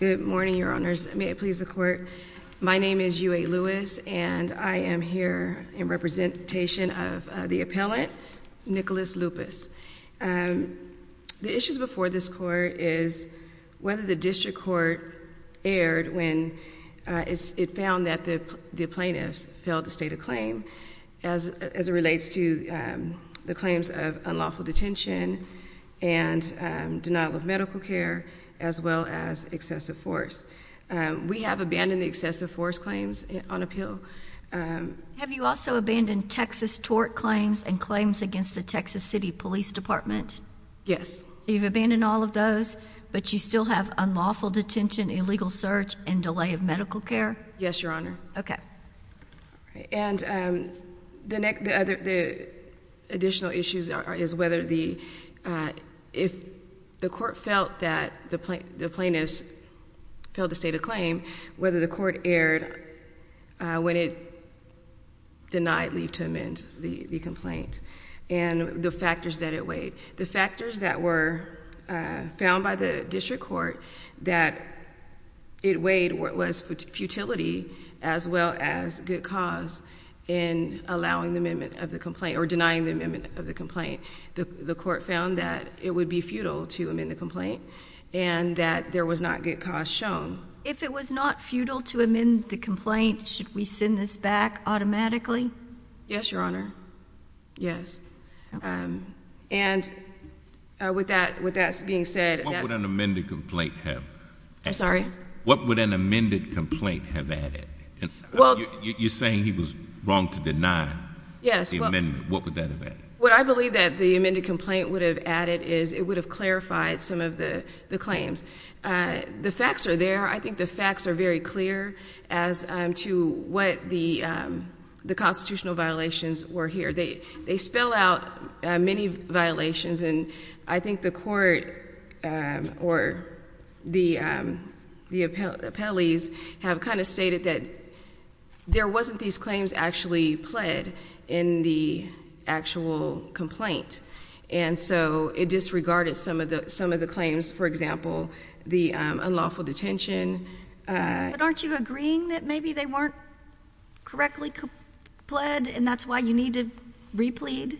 Good morning, your honors. May it please the court. My name is UA Lewis, and I am here in representation of the appellant, Nicholas Lupis. The issues before this court is whether the district court erred when it found that the plaintiffs failed to state a claim as it relates to the claims of unlawful detention and denial of medical care as well as excessive force. We have abandoned the excessive force claims on appeal. Have you also abandoned Texas tort claims and claims against the Texas City Police Department? Yes. So you've abandoned all of those, but you still have unlawful detention, illegal search, and delay of medical care? Yes, your honor. Okay. And the next, the other, the additional issues is whether the, if the court felt that the plaintiffs failed to state a claim, whether the court erred when it denied leave to amend the complaint, and the factors that it weighed. The factors that were found by the district court that it weighed was futility as well as good cause in allowing the amendment of the complaint or denying the amendment of the complaint. The court found that it would be futile to amend the complaint and that there was not good cause shown. If it was not futile to amend the complaint, should we send this back automatically? Yes, your honor. Yes. And with that, with that being said. What would an amended complaint have? I'm sorry? What would an amended complaint have added? You're saying he was wrong to deny the amendment. Yes. What would that have added? What I believe that the amended complaint would have added is it would have clarified some of the claims. The facts are there. I think the facts are very clear as to what the constitutional violations were here. They spell out many violations and I think the court or the appellees have kind of stated that there wasn't these claims actually pled in the actual complaint. And so it disregarded some of the claims, for example, the unlawful detention. But aren't you agreeing that maybe they weren't correctly pled and that's why you need to replead?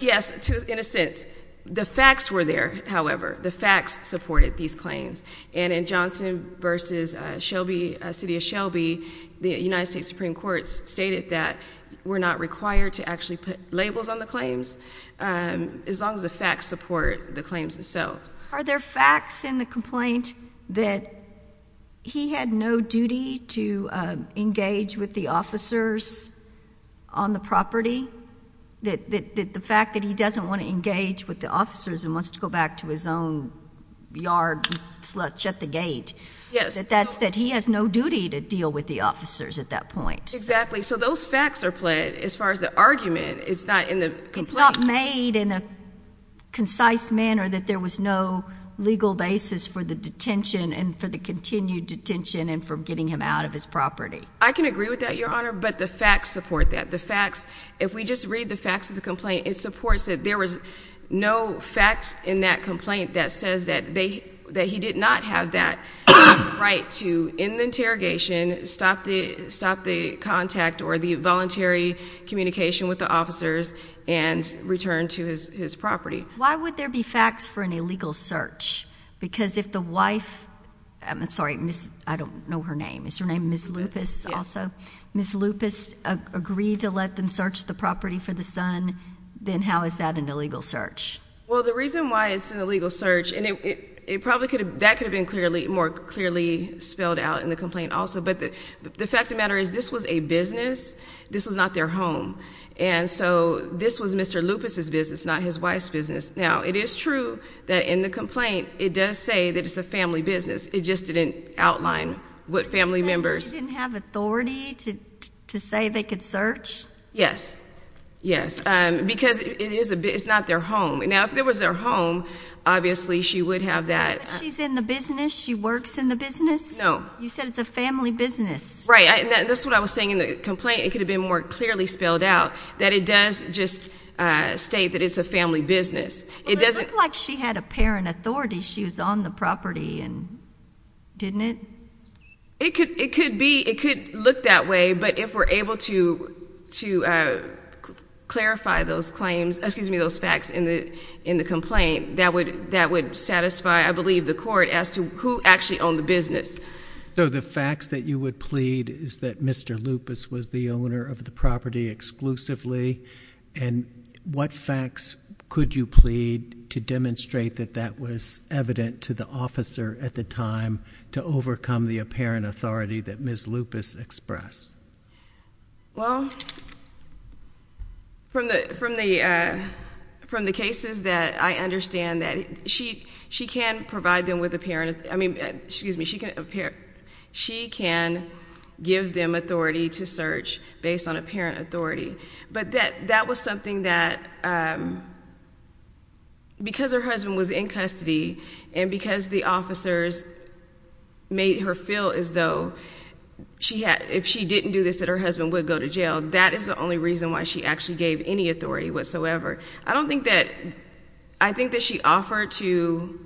Yes, in a sense. The facts were there, however. The facts supported these claims. And in Johnson v. Shelby, City of Shelby, the United States Supreme Court stated that we're not required to actually put labels on the claims as long as the facts support the claims themselves. Are there facts in the complaint that he had no duty to engage with the officers on the property? That the fact that he doesn't want to engage with the officers and wants to back to his own yard and shut the gate, that he has no duty to deal with the officers at that point? Exactly. So those facts are pled as far as the argument is not in the complaint. It's not made in a concise manner that there was no legal basis for the detention and for the continued detention and for getting him out of his property. I can agree with that, Your Honor, but the facts support that. The facts, if we just read the facts of the complaint, it supports that there was no facts in that complaint that says that he did not have that right to, in the interrogation, stop the contact or the voluntary communication with the officers and return to his property. Why would there be facts for an illegal search? Because if the wife, I'm sorry, I don't know her name, is her name Ms. Lupus also? Ms. Lupus agreed to let them search the property for the son, then how is that an illegal search? Well, the reason why it's an illegal search, and it probably could have, that could have been clearly, more clearly spelled out in the complaint also, but the fact of the matter is this was a business. This was not their home. And so this was Mr. Lupus's business, not his wife's business. Now, it is true that in the complaint, it does say that it's a family business. It just didn't outline what family members. They didn't have authority to say they could search? Yes. Yes. Because it is, it's not their home. Now, if it was their home, obviously she would have that. She's in the business? She works in the business? No. You said it's a family business. Right. That's what I was saying in the complaint. It could have been more clearly spelled out that it does just state that it's a family business. It doesn't. Well, it looked like she had apparent authority. She was on the property and didn't it? It could be. It could look that way. But if we're able to clarify those claims, excuse me, those facts in the complaint, that would satisfy, I believe, the court as to who actually owned the business. So the facts that you would plead is that Mr. Lupus was the owner of the property exclusively. And what facts could you plead to demonstrate that that was evident to the officer at the time to overcome the apparent authority that Ms. Lupus expressed? Well, from the cases that I understand that she can provide them with apparent, I mean, excuse me, she can give them authority to search based on apparent authority. But that was something that because her husband was in custody and because the officers made her feel as though she had, if she didn't do this, that her husband would go to jail. That is the only reason why she actually gave any authority whatsoever. I don't think that, I think that she offered to,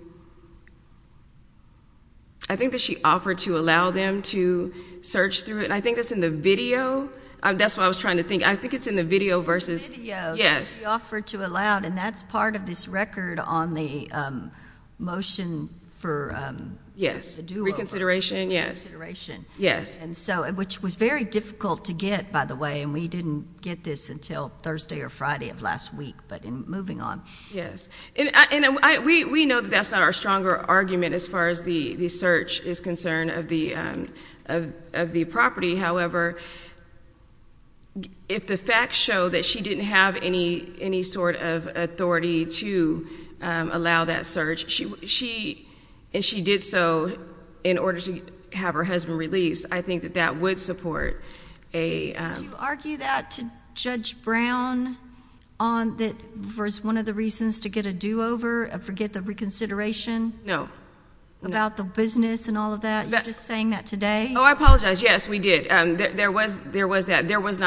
I think that she offered to allow them to search through it. And I think that's in the video. That's what I was trying to think. I think it's in the video that she offered to allow, and that's part of this record on the motion for the do-over. Yes, reconsideration, yes. And so, which was very difficult to get, by the way, and we didn't get this until Thursday or Friday of last week, but moving on. Yes. And we know that that's not our stronger argument as far as the search is concerned of the property. However, if the facts show that she didn't have any sort of authority to allow that search, and she did so in order to have her husband released, I think that that would support a- Did you argue that to Judge Brown that was one of the reasons to get a do-over, forget the reconsideration? No. About the business and all of that? You're just saying that today? Oh, I apologize. Yes, we did. There was not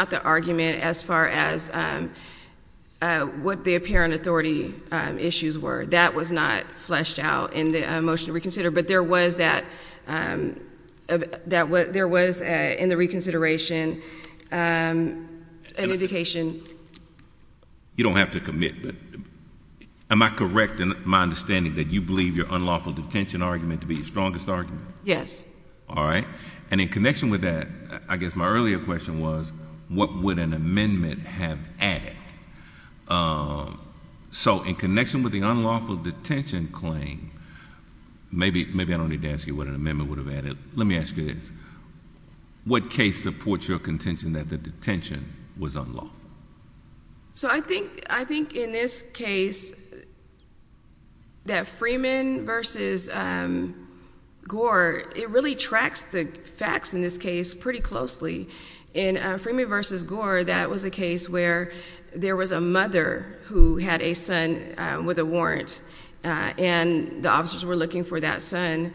the argument as far as what the apparent authority issues were. That was not fleshed out in the motion to reconsider, but there was, in the reconsideration, an indication. You don't have to commit, but am I correct in my understanding that you believe your unlawful detention argument to be your strongest argument? Yes. All right. And in connection with that, I guess my earlier question was, what would an amendment have added? So, in connection with the unlawful detention claim, maybe I don't need to ask you what an amendment would have added. Let me ask you this. What case supports your contention that the detention was unlawful? So, I think in this case that Freeman v. Gore, it really tracks the facts in this case pretty closely. In Freeman v. Gore, that was a case where there was a mother who had a son with a warrant, and the officers were looking for that son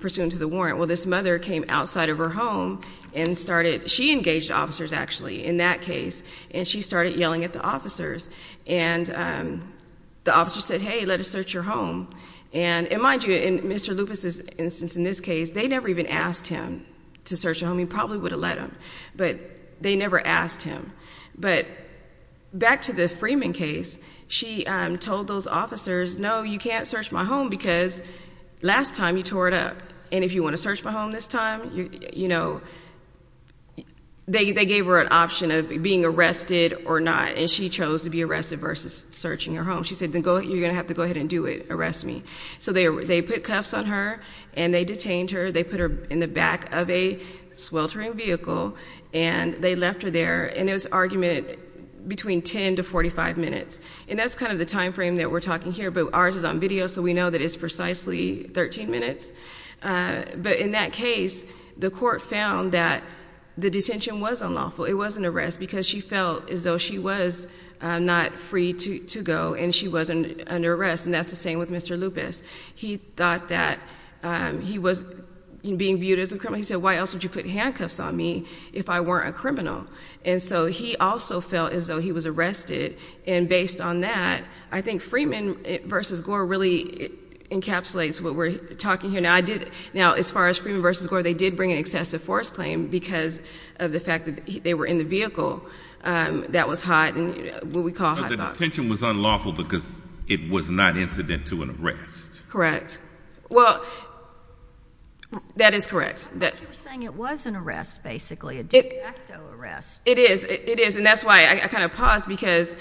pursuant to the warrant. Well, this mother came outside of her home and started—she engaged officers, actually, in that case, and she started yelling at the officers. And the officers said, hey, let us search your home. And mind you, in Mr. Lupus's instance in this case, they never even asked him to search the home. He probably would have let them, but they never asked him. But back to the Freeman case, she told those officers, no, you can't search my home because last time you tore it up. And if you want to search my home this time, you know—they gave her an option of being arrested or not, and she chose to be arrested versus searching her home. She said, you're going to have to go ahead and do it. Arrest me. So they put cuffs on her, and they detained her. They put her in the back of a sweltering vehicle, and they left her there. And it was an argument between 10 to 45 minutes. And that's kind of the time frame that we're talking here, but ours is on video, so we know it's precisely 13 minutes. But in that case, the court found that the detention was unlawful. It was an arrest because she felt as though she was not free to go, and she was under arrest. And that's the same with Mr. Lupus. He thought that he was being viewed as a criminal. He said, why else would you put handcuffs on me if I weren't a criminal? And so he also felt as though he was arrested. And based on that, I think Freeman v. Gore really encapsulates what we're talking here. Now, I did—now, as far as Freeman v. Gore, they did bring an excessive force claim because of the fact that they were in the vehicle. That was hot, and what we call— But the detention was unlawful because it was not incident to an arrest. Correct. Well, that is correct. I thought you were saying it was an arrest, basically, a direct arrest. It is. It is. And that's why I kind of paused because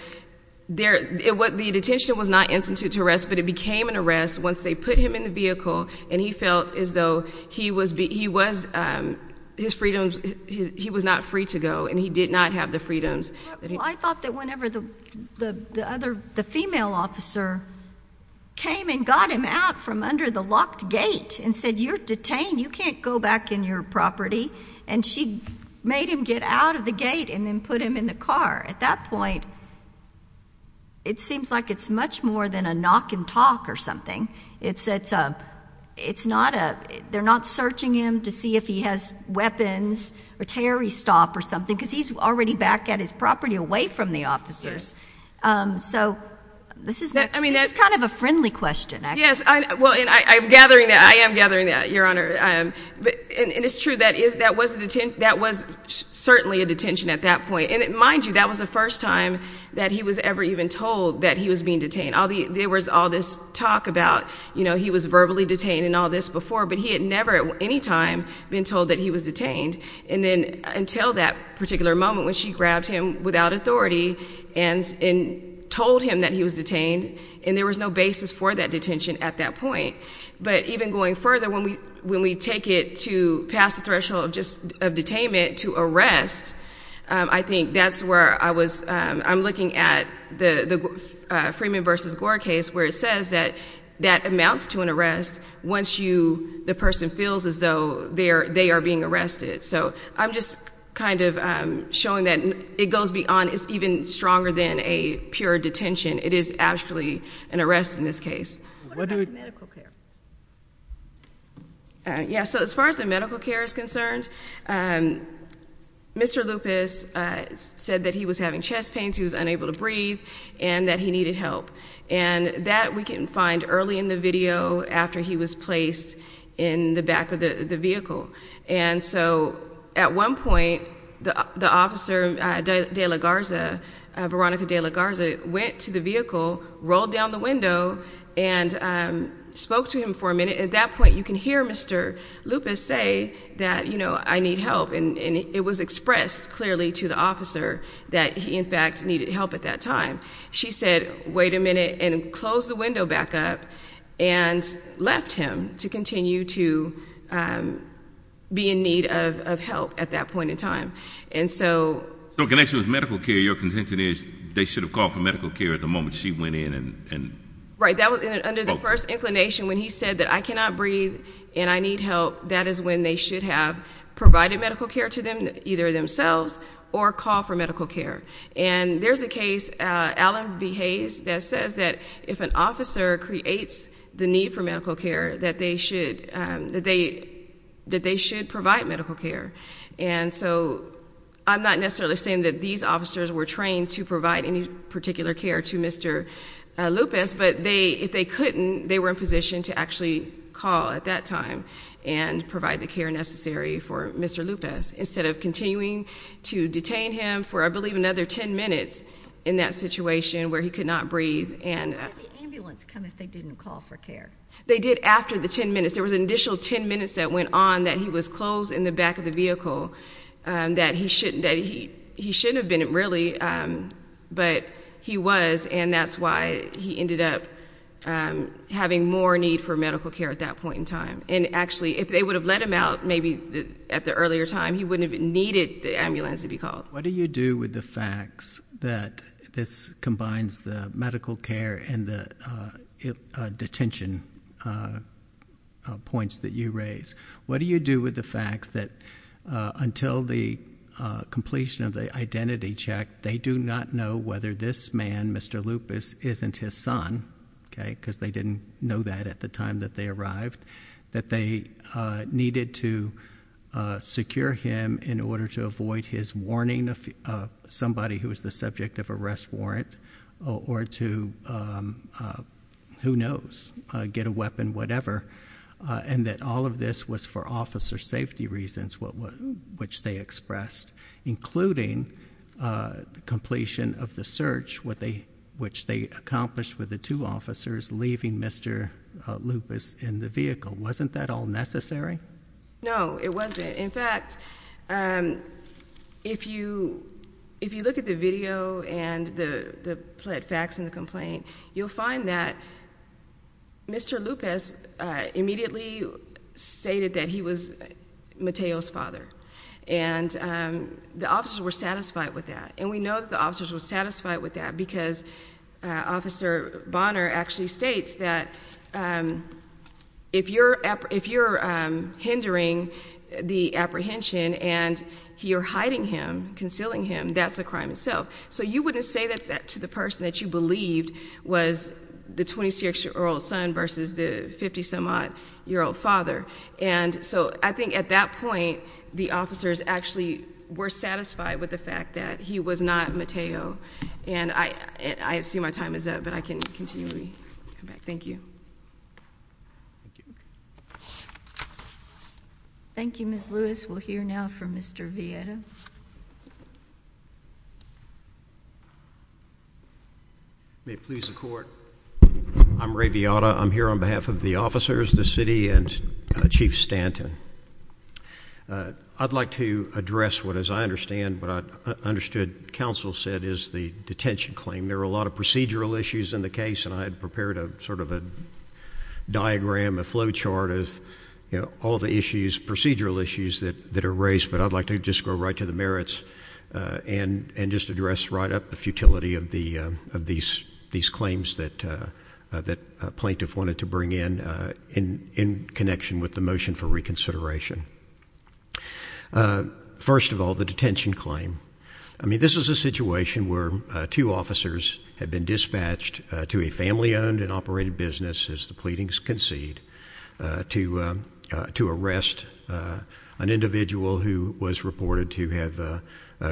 the detention was not incident to arrest, but it became an arrest once they put him in the vehicle, and he felt as though he was—his freedoms—he was not free to go, and he did not have the freedoms that he— I thought that whenever the other—the female officer came and got him out from under the locked gate and said, you're detained. You can't go back in your property. And she made him get out of the gate and then put him in the car. At that point, it seems like it's much more than a knock and talk or something. It's a—it's not a—they're not searching him to see if he has weapons or terroristop or something because he's already back at his property away from the officers. So this is— I mean, that's— It's kind of a friendly question, actually. Yes, I—well, and I'm gathering that—I am gathering that, Your Honor. I am. And it's true. That is—that was a—that was certainly a detention at that point. And mind you, that was the first time that he was ever even told that he was being detained. All the—there was all this talk about, you know, he was verbally detained and all this before, but he had never at any time been told that he was detained. And then until that particular moment when she grabbed him without authority and told him that he was detained, and there was no basis for that threshold of just—of detainment to arrest, I think that's where I was—I'm looking at the Freeman v. Gore case where it says that that amounts to an arrest once you—the person feels as though they are being arrested. So I'm just kind of showing that it goes beyond—it's even stronger than a pure detention. It is actually an arrest in this case. What about medical care? Yeah. So as far as the medical care is concerned, Mr. Lupez said that he was having chest pains, he was unable to breathe, and that he needed help. And that we can find early in the video after he was placed in the back of the vehicle. And so at one point, the officer, De La Garza, Veronica De La Garza, went to the vehicle, rolled down the window, and spoke to him for a minute. At that point, you can hear Mr. Lupez say that, you know, I need help. And it was expressed clearly to the officer that he, in fact, needed help at that time. She said, wait a minute, and closed the window back up and left him to continue to be in need of help at that point in time. And so— So in connection with medical care, your contention is they should have called for medical care at the moment she went in and— Right. That was under the first inclination. When he said that I cannot breathe and I need help, that is when they should have provided medical care to them, either themselves or called for medical care. And there's a case, Allen v. Hayes, that says that if an officer creates the need for medical care, that they should provide medical care. And so I'm not necessarily saying that these officers were trained to provide any particular care to Mr. Lupez, but if they couldn't, they were in position to actually call at that time and provide the care necessary for Mr. Lupez instead of continuing to detain him for, I believe, another 10 minutes in that situation where he could not breathe and— Why did the ambulance come if they didn't call for care? They did after the 10 minutes. There was an additional 10 minutes that went on that he was in the back of the vehicle that he shouldn't have been really, but he was, and that's why he ended up having more need for medical care at that point in time. And actually, if they would have let him out maybe at the earlier time, he wouldn't have needed the ambulance to be called. What do you do with the facts that this combines the medical care and the detention points that you raise? What do you do with the facts that until the completion of the identity check, they do not know whether this man, Mr. Lupez, isn't his son, okay, because they didn't know that at the time that they arrived, that they needed to secure him in order to avoid his weapon, whatever, and that all of this was for officer safety reasons, which they expressed, including the completion of the search, which they accomplished with the two officers leaving Mr. Lupez in the vehicle. Wasn't that all necessary? No, it wasn't. In fact, if you look at the video and the facts in the complaint, you'll find that Mr. Lupez immediately stated that he was Mateo's father, and the officers were satisfied with that, and we know that the officers were satisfied with that because Officer Bonner actually states that if you're hindering the apprehension and you're hiding him, concealing him, that's a crime itself. So you wouldn't say that to the person that you was the 26-year-old son versus the 50-some-odd-year-old father, and so I think at that point, the officers actually were satisfied with the fact that he was not Mateo, and I see my time is up, but I can continually come back. Thank you. Thank you, Ms. Lewis. We'll hear now from Mr. Vietta. May it please the court. I'm Ray Vietta. I'm here on behalf of the officers, the city, and Chief Stanton. I'd like to address what, as I understand, what I understood counsel said is the detention claim. There were a lot of procedural issues in the case, and I had prepared a sort of a diagram, a flow chart of, you know, all the issues, procedural issues that are raised, but I'd like to just go right to the merits and just address right up the futility of these claims that plaintiff wanted to bring in, in connection with the motion for reconsideration. First of all, the detention claim. I mean, this is a situation where two officers had been dispatched to a family-owned and operated business, as the pleadings concede, to arrest an individual who was reported to have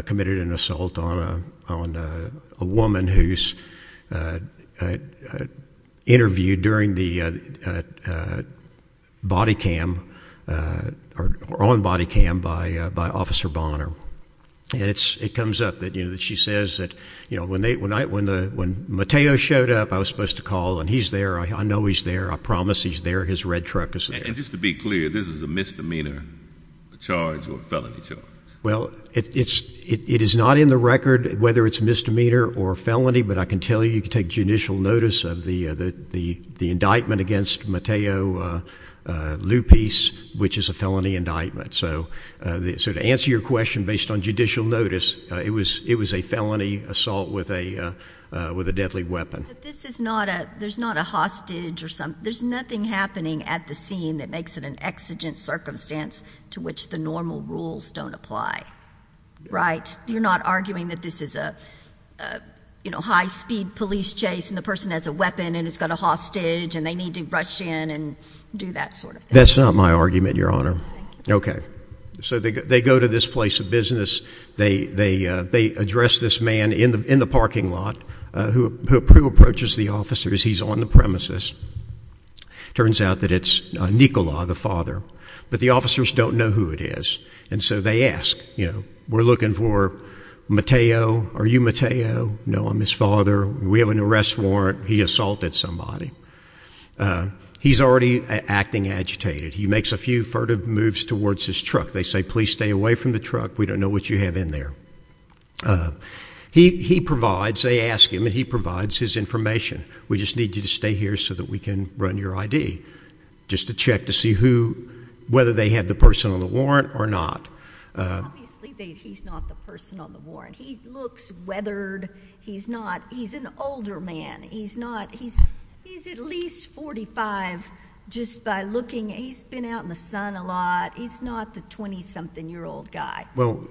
committed an assault on a woman who's interviewed during the body cam, or on body cam, by Officer Bonner. And it comes up that, you know, she says that, you know, when Mateo showed up, I was supposed to call, and he's there, I know he's there, I promise he's there, his red truck is there. And just to be clear, this is a misdemeanor charge or a felony charge? Well, it is not in the record whether it's a misdemeanor or a felony, but I can tell you, you can take judicial notice of the indictment against Mateo Lupis, which is a felony indictment. So to answer your question based on judicial notice, it was a felony assault with a deadly weapon. But this is not a, there's not a hostage or there's nothing happening at the scene that makes it an exigent circumstance to which the normal rules don't apply, right? You're not arguing that this is a, you know, high-speed police chase and the person has a weapon and has got a hostage and they need to rush in and do that sort of thing? That's not my argument, Your Honor. Okay. So they go to this place of business, they address this man in the parking lot who approaches the officer as he's on the turns out that it's Nicola, the father, but the officers don't know who it is. And so they ask, you know, we're looking for Mateo. Are you Mateo? No, I'm his father. We have an arrest warrant. He assaulted somebody. He's already acting agitated. He makes a few furtive moves towards his truck. They say, please stay away from the truck. We don't know what you have in there. He provides, they ask him and he provides his information. We just need you to run your ID just to check to see who, whether they have the person on the warrant or not. Obviously he's not the person on the warrant. He looks weathered. He's not, he's an older man. He's not, he's, he's at least 45 just by looking. He's been out in the sun a lot. He's not the 20 something year old guy. Well,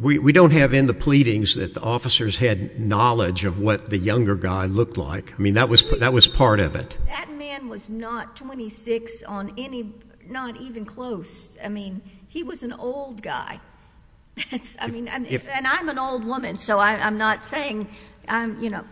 we don't have in the pleadings that the officers had knowledge of what the younger guy looked like. I mean, that was, that was part of it. That man was not 26 on any, not even close. I mean, he was an old guy. I mean, and I'm an old woman, so I'm not saying I'm, you know,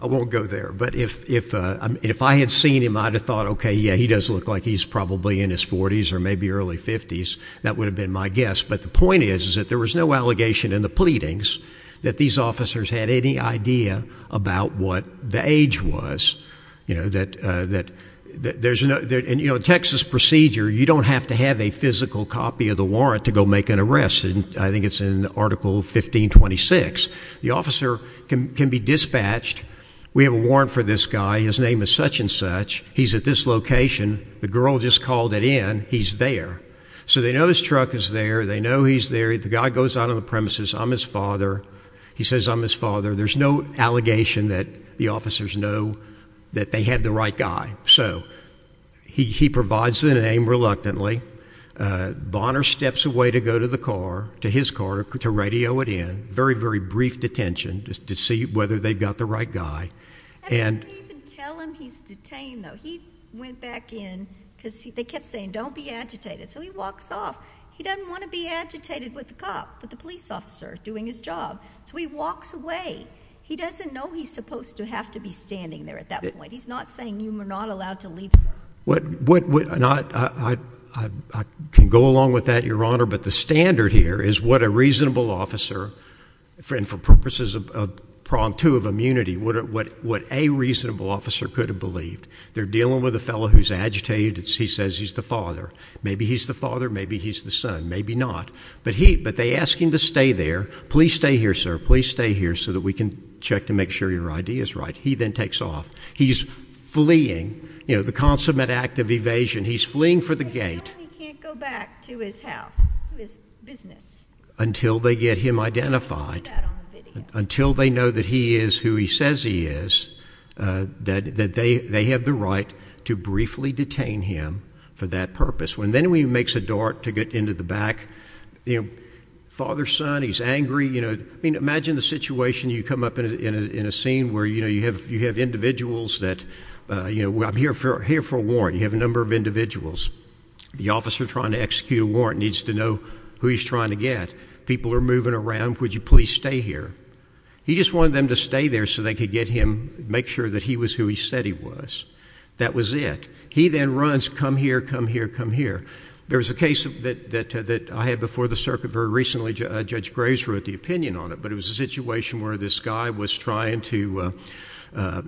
I won't go there, but if, if, uh, if I had seen him, I'd have thought, okay, yeah, he does look like he's probably in his forties or maybe early fifties. That would have been my guess. But the point is, is that there was no allegation in the pleadings that these officers had any idea about what the age was, you know, that, uh, that there's no, you know, Texas procedure, you don't have to have a physical copy of the warrant to go make an arrest. And I think it's in article 1526, the officer can be dispatched. We have a warrant for this guy. His name is such and such he's at this location. The girl just called it in. He's there. So they know his truck is there. They know he's there. The guy goes out on the premises. I'm his father. He says, I'm his father. There's no allegation that the officers know that they had the right guy. So he, he provides the name reluctantly. Uh, Bonner steps away to go to the car, to his car, to radio it in very, very brief detention to see whether they've got the right guy. And tell him he's detained though. He went back in cause they kept saying, don't be agitated. So he walks off. He doesn't want to be agitated with the cop, but the police officer doing his job. So he walks away. He doesn't know he's supposed to have to be standing there at that point. He's not saying you were not allowed to leave. What, what, what not? I, I, I can go along with that, your Honor. But the standard here is what a reasonable officer friend for purposes of prompt to have immunity. What, what, what a reasonable officer could have believed they're dealing with a fellow who's agitated. He says he's the father. Maybe he's the father. Maybe he's the son. Maybe not, but he, but they ask him to stay there. Please stay here, sir. Please stay here so that we can check to make sure your idea is right. He then takes off. He's fleeing, you know, the consummate act of evasion. He's fleeing for the gate. He can't go back to his house, his business until they get him identified until they know that he is who he says he is, that, that they, they have the right to briefly detain him for that purpose. When then we makes a dart to get into the back, you know, father, son, he's angry. You know, I mean, imagine the situation you come up in a, in a, in a scene where, you know, you have, you have individuals that, uh, you know, I'm here for, here for a warrant. You have a number of individuals. The officer trying to execute a warrant needs to know who he's trying to get. People are moving around. Would you please stay here? He just wanted them to stay there so they could get him, make sure that he was who he said he was. That was it. He then runs, come here, come here, come here. There was a case that, that, that I had before the circuit very recently, Judge Graves wrote the opinion on it, but it was a situation where this guy was trying to, uh,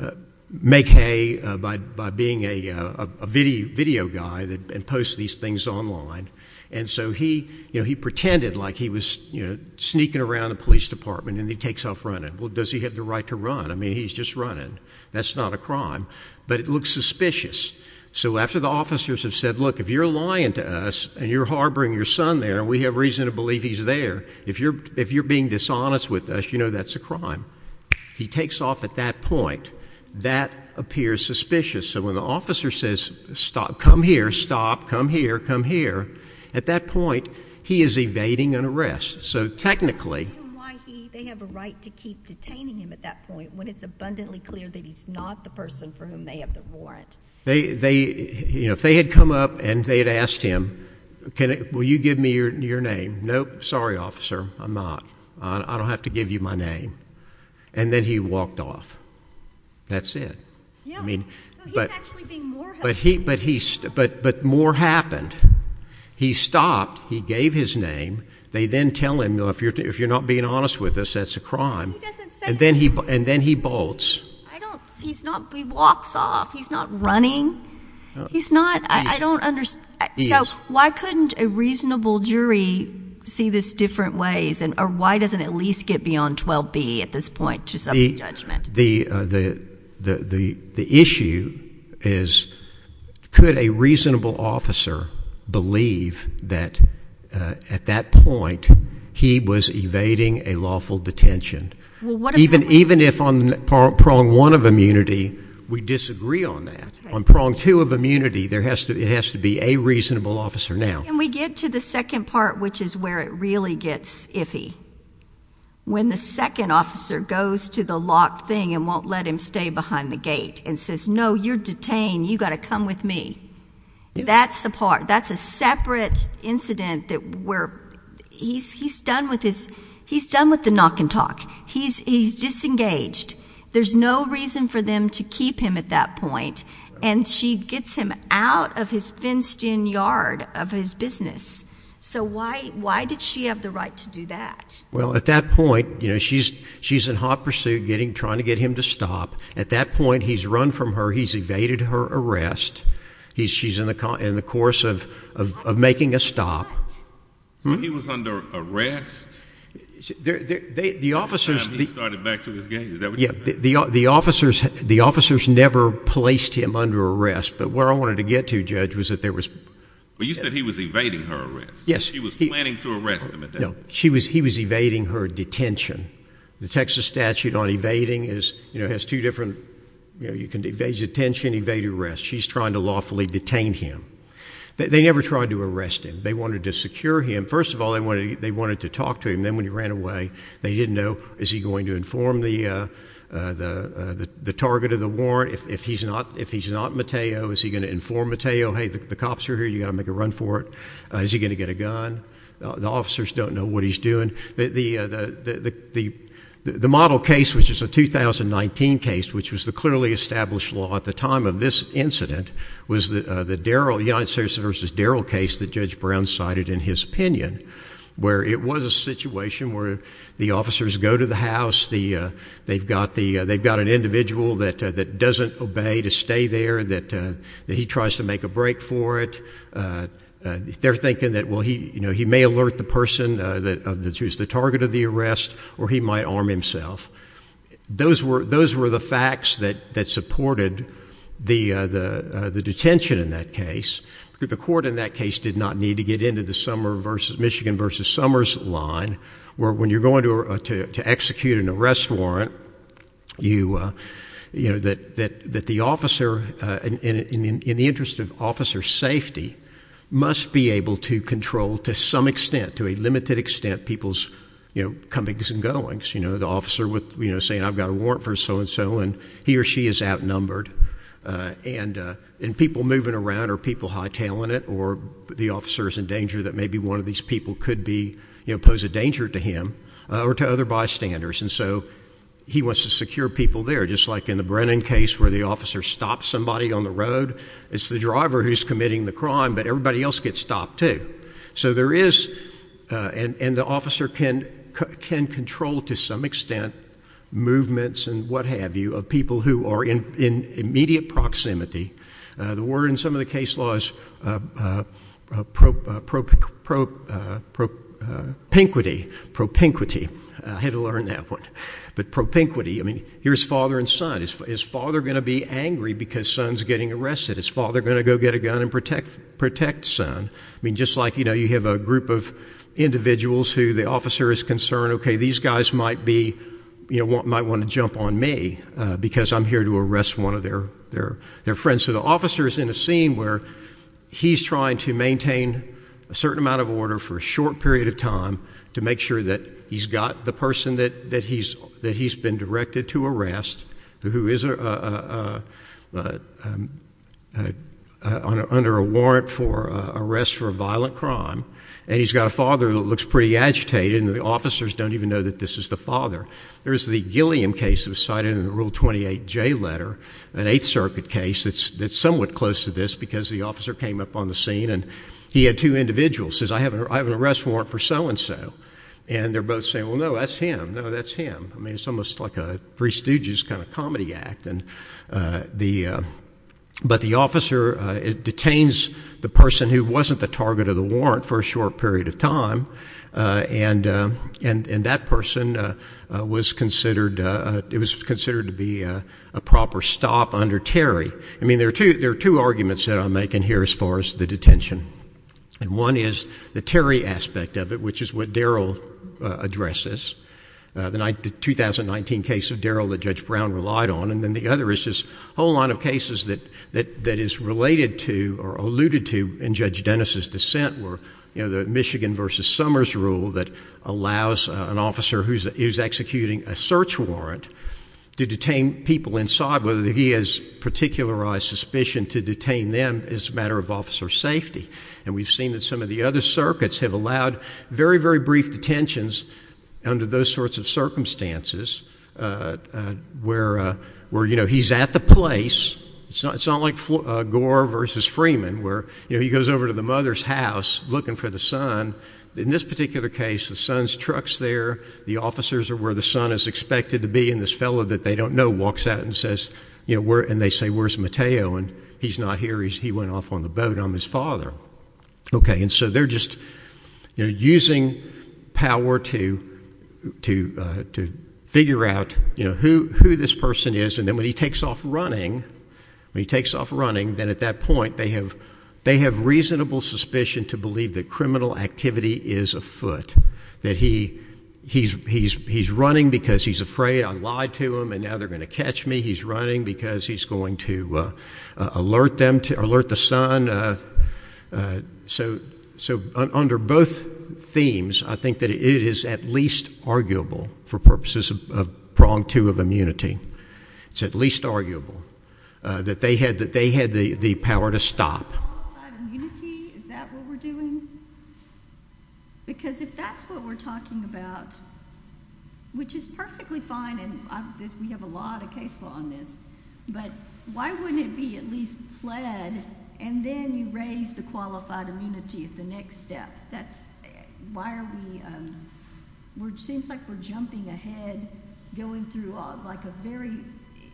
uh, make hay by, by being a, uh, a video guy that posts these things online. And so he, you know, he pretended like he was sneaking around the police department and he takes off running. Well, does he have the right to run? I mean, he's just running. That's not a crime, but it looks you're lying to us and you're harboring your son there and we have reason to believe he's there. If you're, if you're being dishonest with us, you know, that's a crime. He takes off at that point that appears suspicious. So when the officer says, stop, come here, stop, come here, come here at that point, he is evading an arrest. So technically they have a right to keep detaining him at that point when it's abundantly clear that he's not the person for whom they have the warrant. They, they, you know, if they had come up and they had asked him, can you, will you give me your, your name? Nope. Sorry, officer. I'm not, I don't have to give you my name. And then he walked off. That's it. I mean, but he, but he, but, but more happened. He stopped. He gave his name. They then tell him, if you're, if you're not being honest with us, that's a crime. And then he bolts. He's not, he walks off. He's not running. He's not, I don't understand. So why couldn't a reasonable jury see this different ways? And why doesn't it at least get beyond 12B at this point to some judgment? The, the, the, the, the, the issue is could a reasonable officer believe that, uh, at that point he was evading a lawful detention. Even, even if on prong one of immunity, we disagree on that on prong two of immunity, there has to, it has to be a reasonable officer now. And we get to the second part, which is where it really gets iffy. When the second officer goes to the lock thing and won't let him stay behind the gate and says, no, you're detained. You got to come with me. That's the part, that's a separate incident that where he's, he's done with his, he's done with the knock and talk. He's, he's disengaged. There's no reason for them to keep him at that point. And she gets him out of his fenced in yard of his business. So why, why did she have the right to do that? Well, at that point, you know, she's, she's in hot pursuit getting, trying to get him to stop. At that point, he's run from her. He's evaded her arrest. He's she's in the car in the course of, of, of making a stop. He was under arrest. The officers, the officers, the officers never placed him under arrest, but where I wanted to get to judge was that there was, well, you said he was evading her arrest. Yes. He was planning to arrest him. No, he was evading her detention. The Texas statute on evading is, you know, has two different, you know, you can evade detention, evade arrest. She's trying to lawfully detain him. They never tried to arrest him. They wanted to secure him. First of all, they wanted, they wanted to talk to him. Then when he ran away, they didn't know, is he going to inform the, the, the target of the warrant? If he's not, if he's not Mateo, is he going to inform Mateo? Hey, the cops are here. You got to make a run for it. Is he going to get a gun? The officers don't know what he's doing. The, the, the, the, the, the model case, which is a 2019 case, which was the clearly established law at the time of this incident was the, uh, the Daryl United States versus Daryl case that judge Brown cited in his opinion, where it was a situation where the officers go to the house, the, uh, they've got the, uh, they've got an individual that, that doesn't obey to stay there, that, uh, that he tries to make a break for it. Uh, uh, they're thinking that, well, he, you know, he may alert the person that is the target of the arrest, or he might arm himself. Those were, those were the facts that, that supported the, uh, the, the detention in that case, because the court in that case did not need to get into the summer versus Michigan versus summers line, where when you're going to, uh, to, to execute an arrest warrant, you, uh, you know, that, that, that the officer, uh, in, in, in, in the interest of control to some extent, to a limited extent, people's, you know, comings and goings, you know, the officer with, you know, saying I've got a warrant for so-and-so and he or she is outnumbered, uh, and, uh, and people moving around or people high tailing it, or the officer is in danger that maybe one of these people could be, you know, pose a danger to him or to other bystanders. And so he wants to secure people there, just like in the Brennan case where the officer stopped somebody on the road, it's the driver who's committing the crime, but everybody else gets stopped too. So there is, uh, and, and the officer can, can control to some extent movements and what have you, of people who are in, in immediate proximity. Uh, the word in some of the case laws, uh, uh, uh, pro, uh, pro, pro, uh, pro, uh, propinquity, propinquity. I had to learn that one, but propinquity, I mean, here's father and son, his father going to be angry because son's getting his father going to go get a gun and protect, protect son. I mean, just like, you know, you have a group of individuals who the officer is concerned, okay, these guys might be, you know, might want to jump on me, uh, because I'm here to arrest one of their, their, their friends. So the officer is in a scene where he's trying to maintain a certain amount of order for a short period of time to make sure that he's got the person that, that he's, that he's been directed to arrest who is, uh, uh, uh, uh, uh, uh, uh, uh, uh, uh, uh, uh, uh, uh, uh, uh, uh, uh, uh, under a warrant for, uh, arrest for a violent crime. And he's got a father that looks pretty agitated and the officers don't even know that this is the father. There is the Gilliam case that was cited in the rule 28 J letter, an eighth circuit case. That's, that's somewhat close to this because the officer came up on the scene and he had two individuals says, I have an arrest warrant for so-and-so and they're both saying, well, no, that's him. No, that's him. I mean, it's almost like a prestigious kind of comedy act. And, uh, the, uh, but the officer detains the person who wasn't the target of the warrant for a short period of time. Uh, and, uh, and, and that person, uh, uh, was considered, uh, uh, it was considered to be a proper stop under Terry. I mean, there are two, there are two arguments that I'm making here as far as the detention. And one is the Terry aspect of it, which is what Daryl, uh, addresses, uh, the 2019 case of Daryl that judge Brown relied on. And then the other is this whole line of cases that, that, that is related to or alluded to in judge Dennis's dissent were, you know, the Michigan versus Summers rule that allows an officer who's executing a search warrant to detain people inside, whether he has suspicion to detain them as a matter of officer safety. And we've seen that some of the other circuits have allowed very, very brief detentions under those sorts of circumstances, uh, uh, where, uh, where, you know, he's at the place. It's not, it's not like, uh, Gore versus Freeman where, you know, he goes over to the mother's house looking for the son in this particular case, the son's trucks there, the officers are where the son is expected to be in this fellow that they don't know walks out and says, you know, where, and they say, where's Mateo? And he's not here. He's, he went off on the boat. I'm his father. Okay. And so they're just, you know, using power to, to, uh, to figure out, you know, who, who this person is. And then when he takes off running, when he takes off running, then at that point, they have, they have reasonable suspicion to believe that criminal activity is a foot that he he's, he's, he's running because he's afraid I lied to him and now they're going to catch me. He's running because he's going to, uh, uh, alert them to alert the sun. Uh, uh, so, so under both themes, I think that it is at least arguable for purposes of prong to have immunity. It's at least arguable, uh, that they had, that they had the power to stop. Is that what we're doing? Because if that's what we're talking about, which is perfectly fine. And we have a lot of case law on this, but why wouldn't it be at least fled? And then you raise the qualified immunity at the next step. That's why are we, we're, it seems like we're jumping ahead, going through like a very,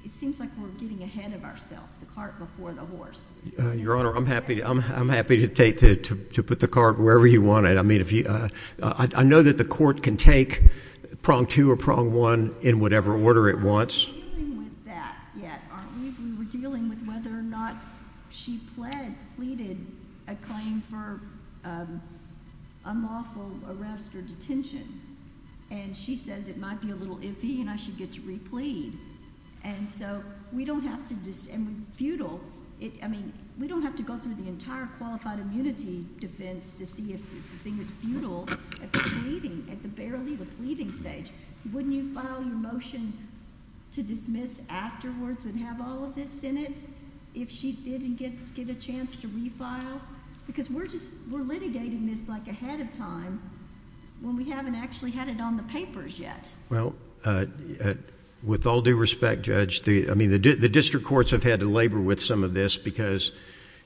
it seems like we're getting ahead of ourselves, the cart before the horse, your honor. I'm happy. I'm, I'm happy to take to put the cart wherever you want it. I mean, if you, uh, I know that the court can take prong two or prong one in whatever order it wants. Yeah. We were dealing with whether or not she pled pleaded a claim for, um, unlawful arrest or detention. And she says it might be a little iffy and I should get to replete. And so we don't have to defense to see if the thing is futile at the meeting, at the barely the pleading stage, wouldn't you file your motion to dismiss afterwards and have all of this in it? If she didn't get, get a chance to refile because we're just, we're litigating this like ahead of time when we haven't actually had it on the papers yet. Well, uh, with all due respect, judge, the, I mean the, the district courts have had to labor with some of this because,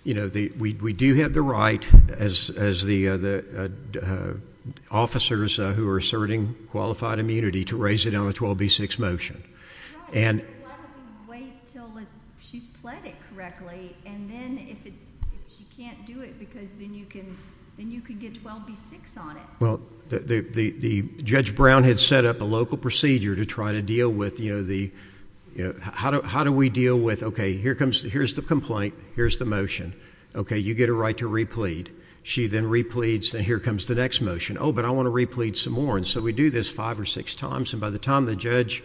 you know, the, we, we do have the right as, as the, uh, the, uh, officers who are asserting qualified immunity to raise it on a 12 B six motion and wait till she's pleaded correctly. And then if she can't do it because then you can, then you can get 12 B six on it. Well, the, the, the judge Brown had set up a local procedure to try to deal with, you know, the, you know, how do, how do we deal with, okay, here comes the, here's the complaint, here's the motion. Okay. You get a right to replete. She then repletes. Then here comes the next motion. Oh, but I want to replete some more. And so we do this five or six times. And by the time the judge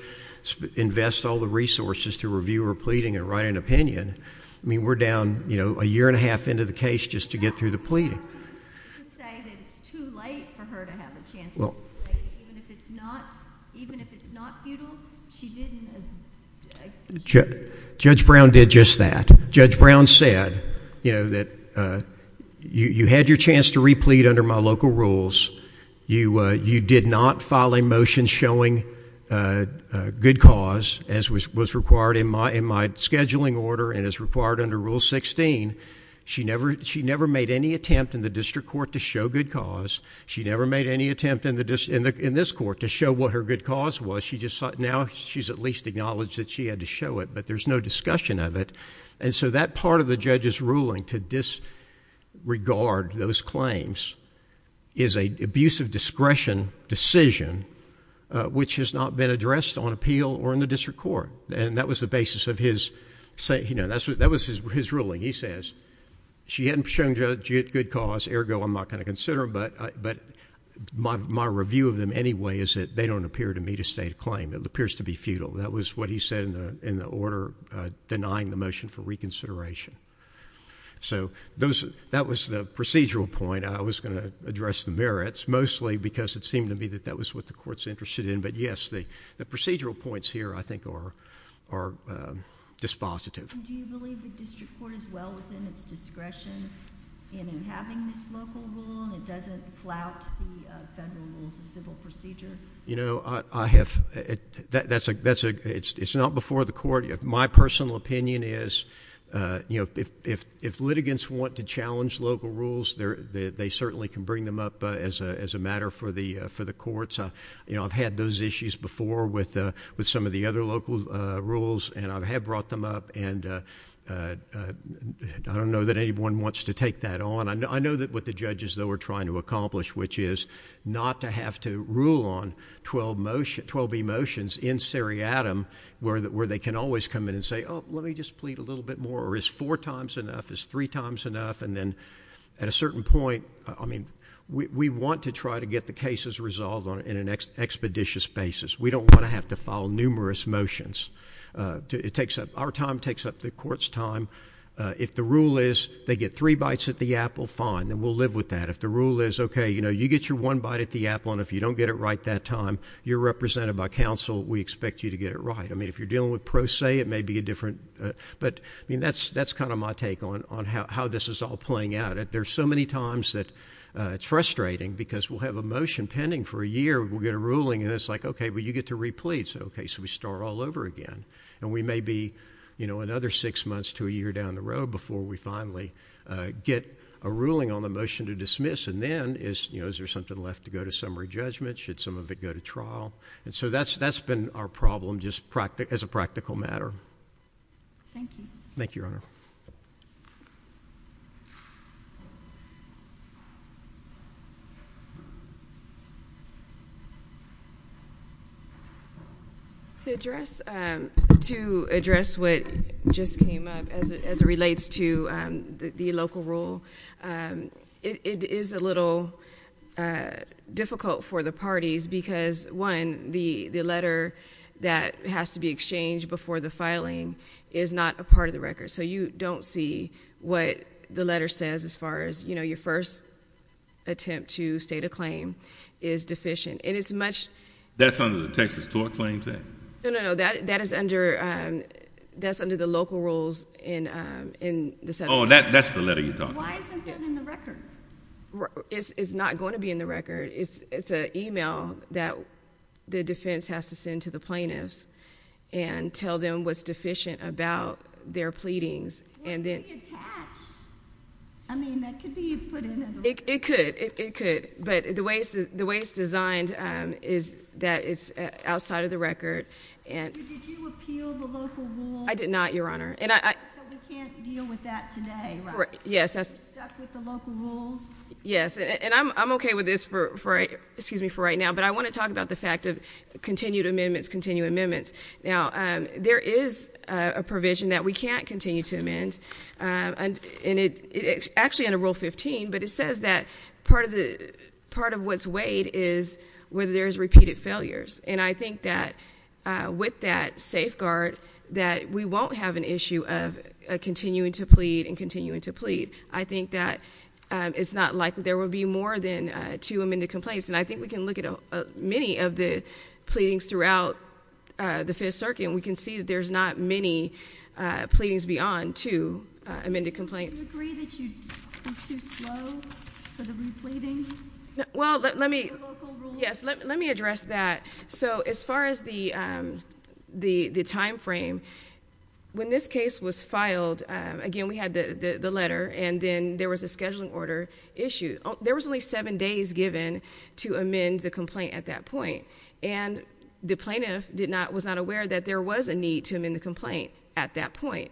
invests all the resources to review her pleading and write an opinion, I mean, we're down, you know, a year and a half into the case just to get through the pleading. Say that it's too late for her to have a chance. Even if it's not, even if it's not futile, she didn't. Judge Brown did just that. Judge Brown said, you know, that, uh, you, you had your chance to replete under my local rules. You, uh, you did not file a motion showing, uh, uh, good cause as was, was required in my, in my scheduling order and is required under rule 16. She never, she never made any attempt in the district court to show good cause. She never made any attempt in the dis in this court to show what her good cause was. She just thought now she's at least acknowledged that she had to show it, but there's no discussion of it. And so that part of the judge's ruling to disregard those claims is a abuse of discretion decision, uh, which has not been addressed on appeal or in the district court. And that was the basis of his say, you know, that's what, that was his, his ruling. He says she hadn't shown good cause ergo. I'm not going to consider them, but I, but my, my review of them anyway, is that they don't appear to me to state a claim that appears to be futile. That was what he said in the, in the order, uh, denying the motion for reconsideration. So those, that was the procedural point. I was going to address the merits mostly because it seemed to me that that was what the in, but yes, the, the procedural points here I think are, are, um, dispositive. And do you believe the district court is well within its discretion in having this local rule and it doesn't flout the federal rules of civil procedure? You know, I have, that's a, that's a, it's, it's not before the court. My personal opinion is, uh, you know, if, if, if litigants want to challenge local rules there, they certainly can bring them up, uh, as a, as a matter for the, uh, for the courts. I, you know, I've had those issues before with, uh, with some of the other local, uh, rules and I've had brought them up and, uh, uh, I don't know that anyone wants to take that on. I know, I know that what the judges though are trying to accomplish, which is not to have to rule on 12 motion, 12b motions in seriatim where, where they can always come in and say, oh, let me just plead a little bit more or is four times enough is three times enough. And then at a certain point, I mean, we, we want to try to get the cases resolved on an expeditious basis. We don't want to have to file numerous motions. Uh, it takes up our time, takes up the court's time. Uh, if the rule is they get three bites at the Apple fine, then we'll live with that. If the rule is okay, you know, you get your one bite at the Apple and if you don't get it right that time you're represented by council, we expect you to get it right. I mean, if you're dealing with pro se, it may be a different, but I mean, that's, that's kind of my take on, on how, how this is all playing out. And there's so many times that, uh, it's frustrating because we'll have a motion pending for a year. We'll get a ruling and it's like, okay, well you get to replete. So, okay, so we start all over again and we may be, you know, another six months to a year down the road before we finally, uh, get a ruling on the motion to dismiss. And then is, you know, is there something left to go to summary judgment? Should some of it go to trial? And so that's, that's been our problem. Just practice as a practical matter. Thank you. Thank you, Your Honor. To address, um, to address what just came up as, as it relates to, um, the, the local rule. Um, it is a little, uh, difficult for the parties because one, the, the letter that has to be exchanged before the filing is not a part of the record. So you don't see what the letter says as far as, you know, your first attempt to state a claim is deficient and it's much. That's under the Texas tort claims then? No, no, no. That, that is under, um, that's under the local rules in, um, in the... Oh, that, that's the letter you're talking about. Why isn't that in the record? It's, it's not going to be in the record. It's, it's an email that the defense has to send to the plaintiffs and tell them what's deficient about their pleadings. And then... It could, it could, but the way it's, the way it's designed, um, is that it's outside of the record and... So we can't deal with that today, right? Yes, that's... You're stuck with the local rules? Yes. And I'm, I'm okay with this for, for, excuse me, for right now, but I want to talk about the fact of continued amendments, continue amendments. Now, um, there is a provision that we can't continue to amend, um, and, and it, it actually under rule 15, but it says that part of the, part of what's weighed is whether there's repeated failures. And I think that, uh, with that issue of, uh, continuing to plead and continuing to plead, I think that, um, it's not likely there will be more than, uh, two amended complaints. And I think we can look at many of the pleadings throughout, uh, the Fifth Circuit and we can see that there's not many, uh, pleadings beyond two, uh, amended complaints. Do you agree that you're too slow for the repleting? Well, let, let me... Yes, let, let me address that. So as far as the, um, the, the timeframe, when this case was filed, um, again, we had the, the, the letter and then there was a scheduling order issue. There was only seven days given to amend the complaint at that point. And the plaintiff did not, was not aware that there was a need to amend the complaint at that point,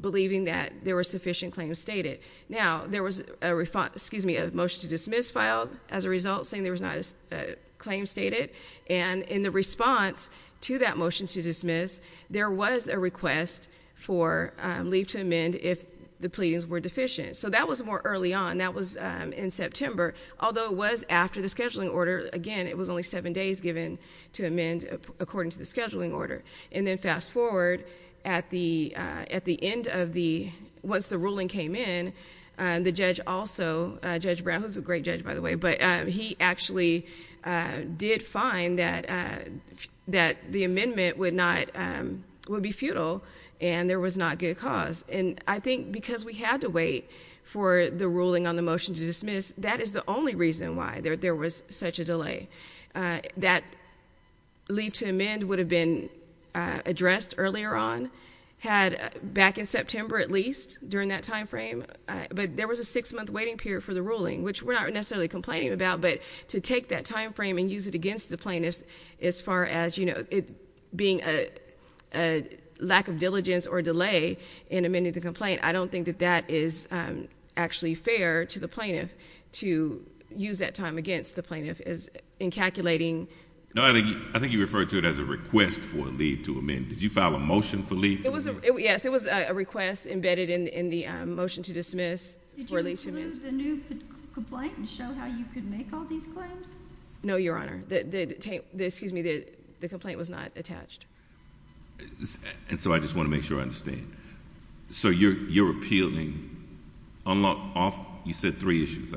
believing that there were sufficient claims stated. Now there was a refund, excuse me, a motion to dismiss filed as a result saying there was not a claim stated. And in the response to that motion to dismiss, there was a request for, um, leave to amend if the pleadings were deficient. So that was more early on. That was, um, in September, although it was after the scheduling order. Again, it was only seven days given to amend according to the scheduling order. And then fast forward at the, uh, at the end of the, once the ruling came in, um, the judge also, uh, Judge Brown, who's a great judge by the way, but, um, he actually, uh, did find that, uh, that the amendment would not, um, would be futile and there was not good cause. And I think because we had to wait for the ruling on the motion to dismiss, that is the only reason why there, there was such a delay, uh, that leave to amend would have been, uh, addressed earlier on, had back in September, at least during that timeframe. Uh, but there was a six month waiting period for the ruling, which we're not necessarily complaining about, but to take that timeframe and use it against the plaintiffs, as far as, you know, it being a, a lack of diligence or delay in amending the complaint, I don't think that that is, um, actually fair to the plaintiff to use that time against the plaintiff as in calculating. No, I think, I think you referred to it as a request for leave to amend. Did you file a motion for leave? It was a, yes, it was a request embedded in, in the, um, motion to dismiss. Did you include the new complaint and show how you could make all these claims? No, Your Honor. The, the, the, excuse me, the, the complaint was not attached. And so I just want to make sure I understand. So you're, you're appealing, unlawful, you said three issues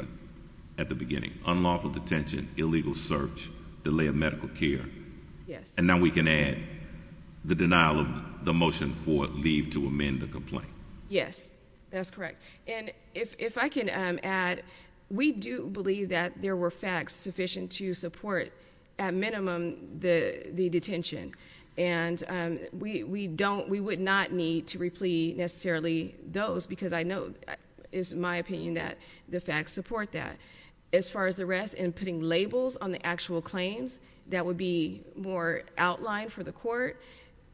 at the beginning, unlawful detention, illegal search, delay of medical care. Yes. And now we can add the denial of the motion for leave to amend the If, if I can, um, add, we do believe that there were facts sufficient to support at minimum the, the detention. And, um, we, we don't, we would not need to replete necessarily those because I know it's my opinion that the facts support that. As far as the rest and putting labels on the actual claims, that would be more outlined for the court.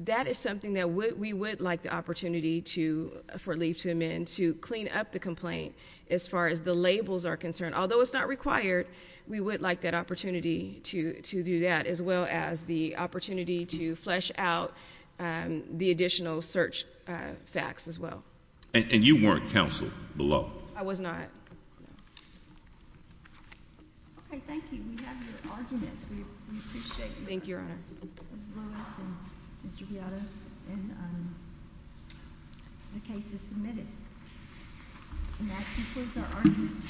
That is something that would, we would like the opportunity to for leave to amend to clean up the complaint. As far as the labels are concerned, although it's not required, we would like that opportunity to do that as well as the opportunity to flesh out the additional search facts as well. And you weren't counseled I was not. Okay. Thank you. We have your arguments. We appreciate it. Thank you, Your Honor. Mr. Piano and the case is submitted. And that concludes our arguments.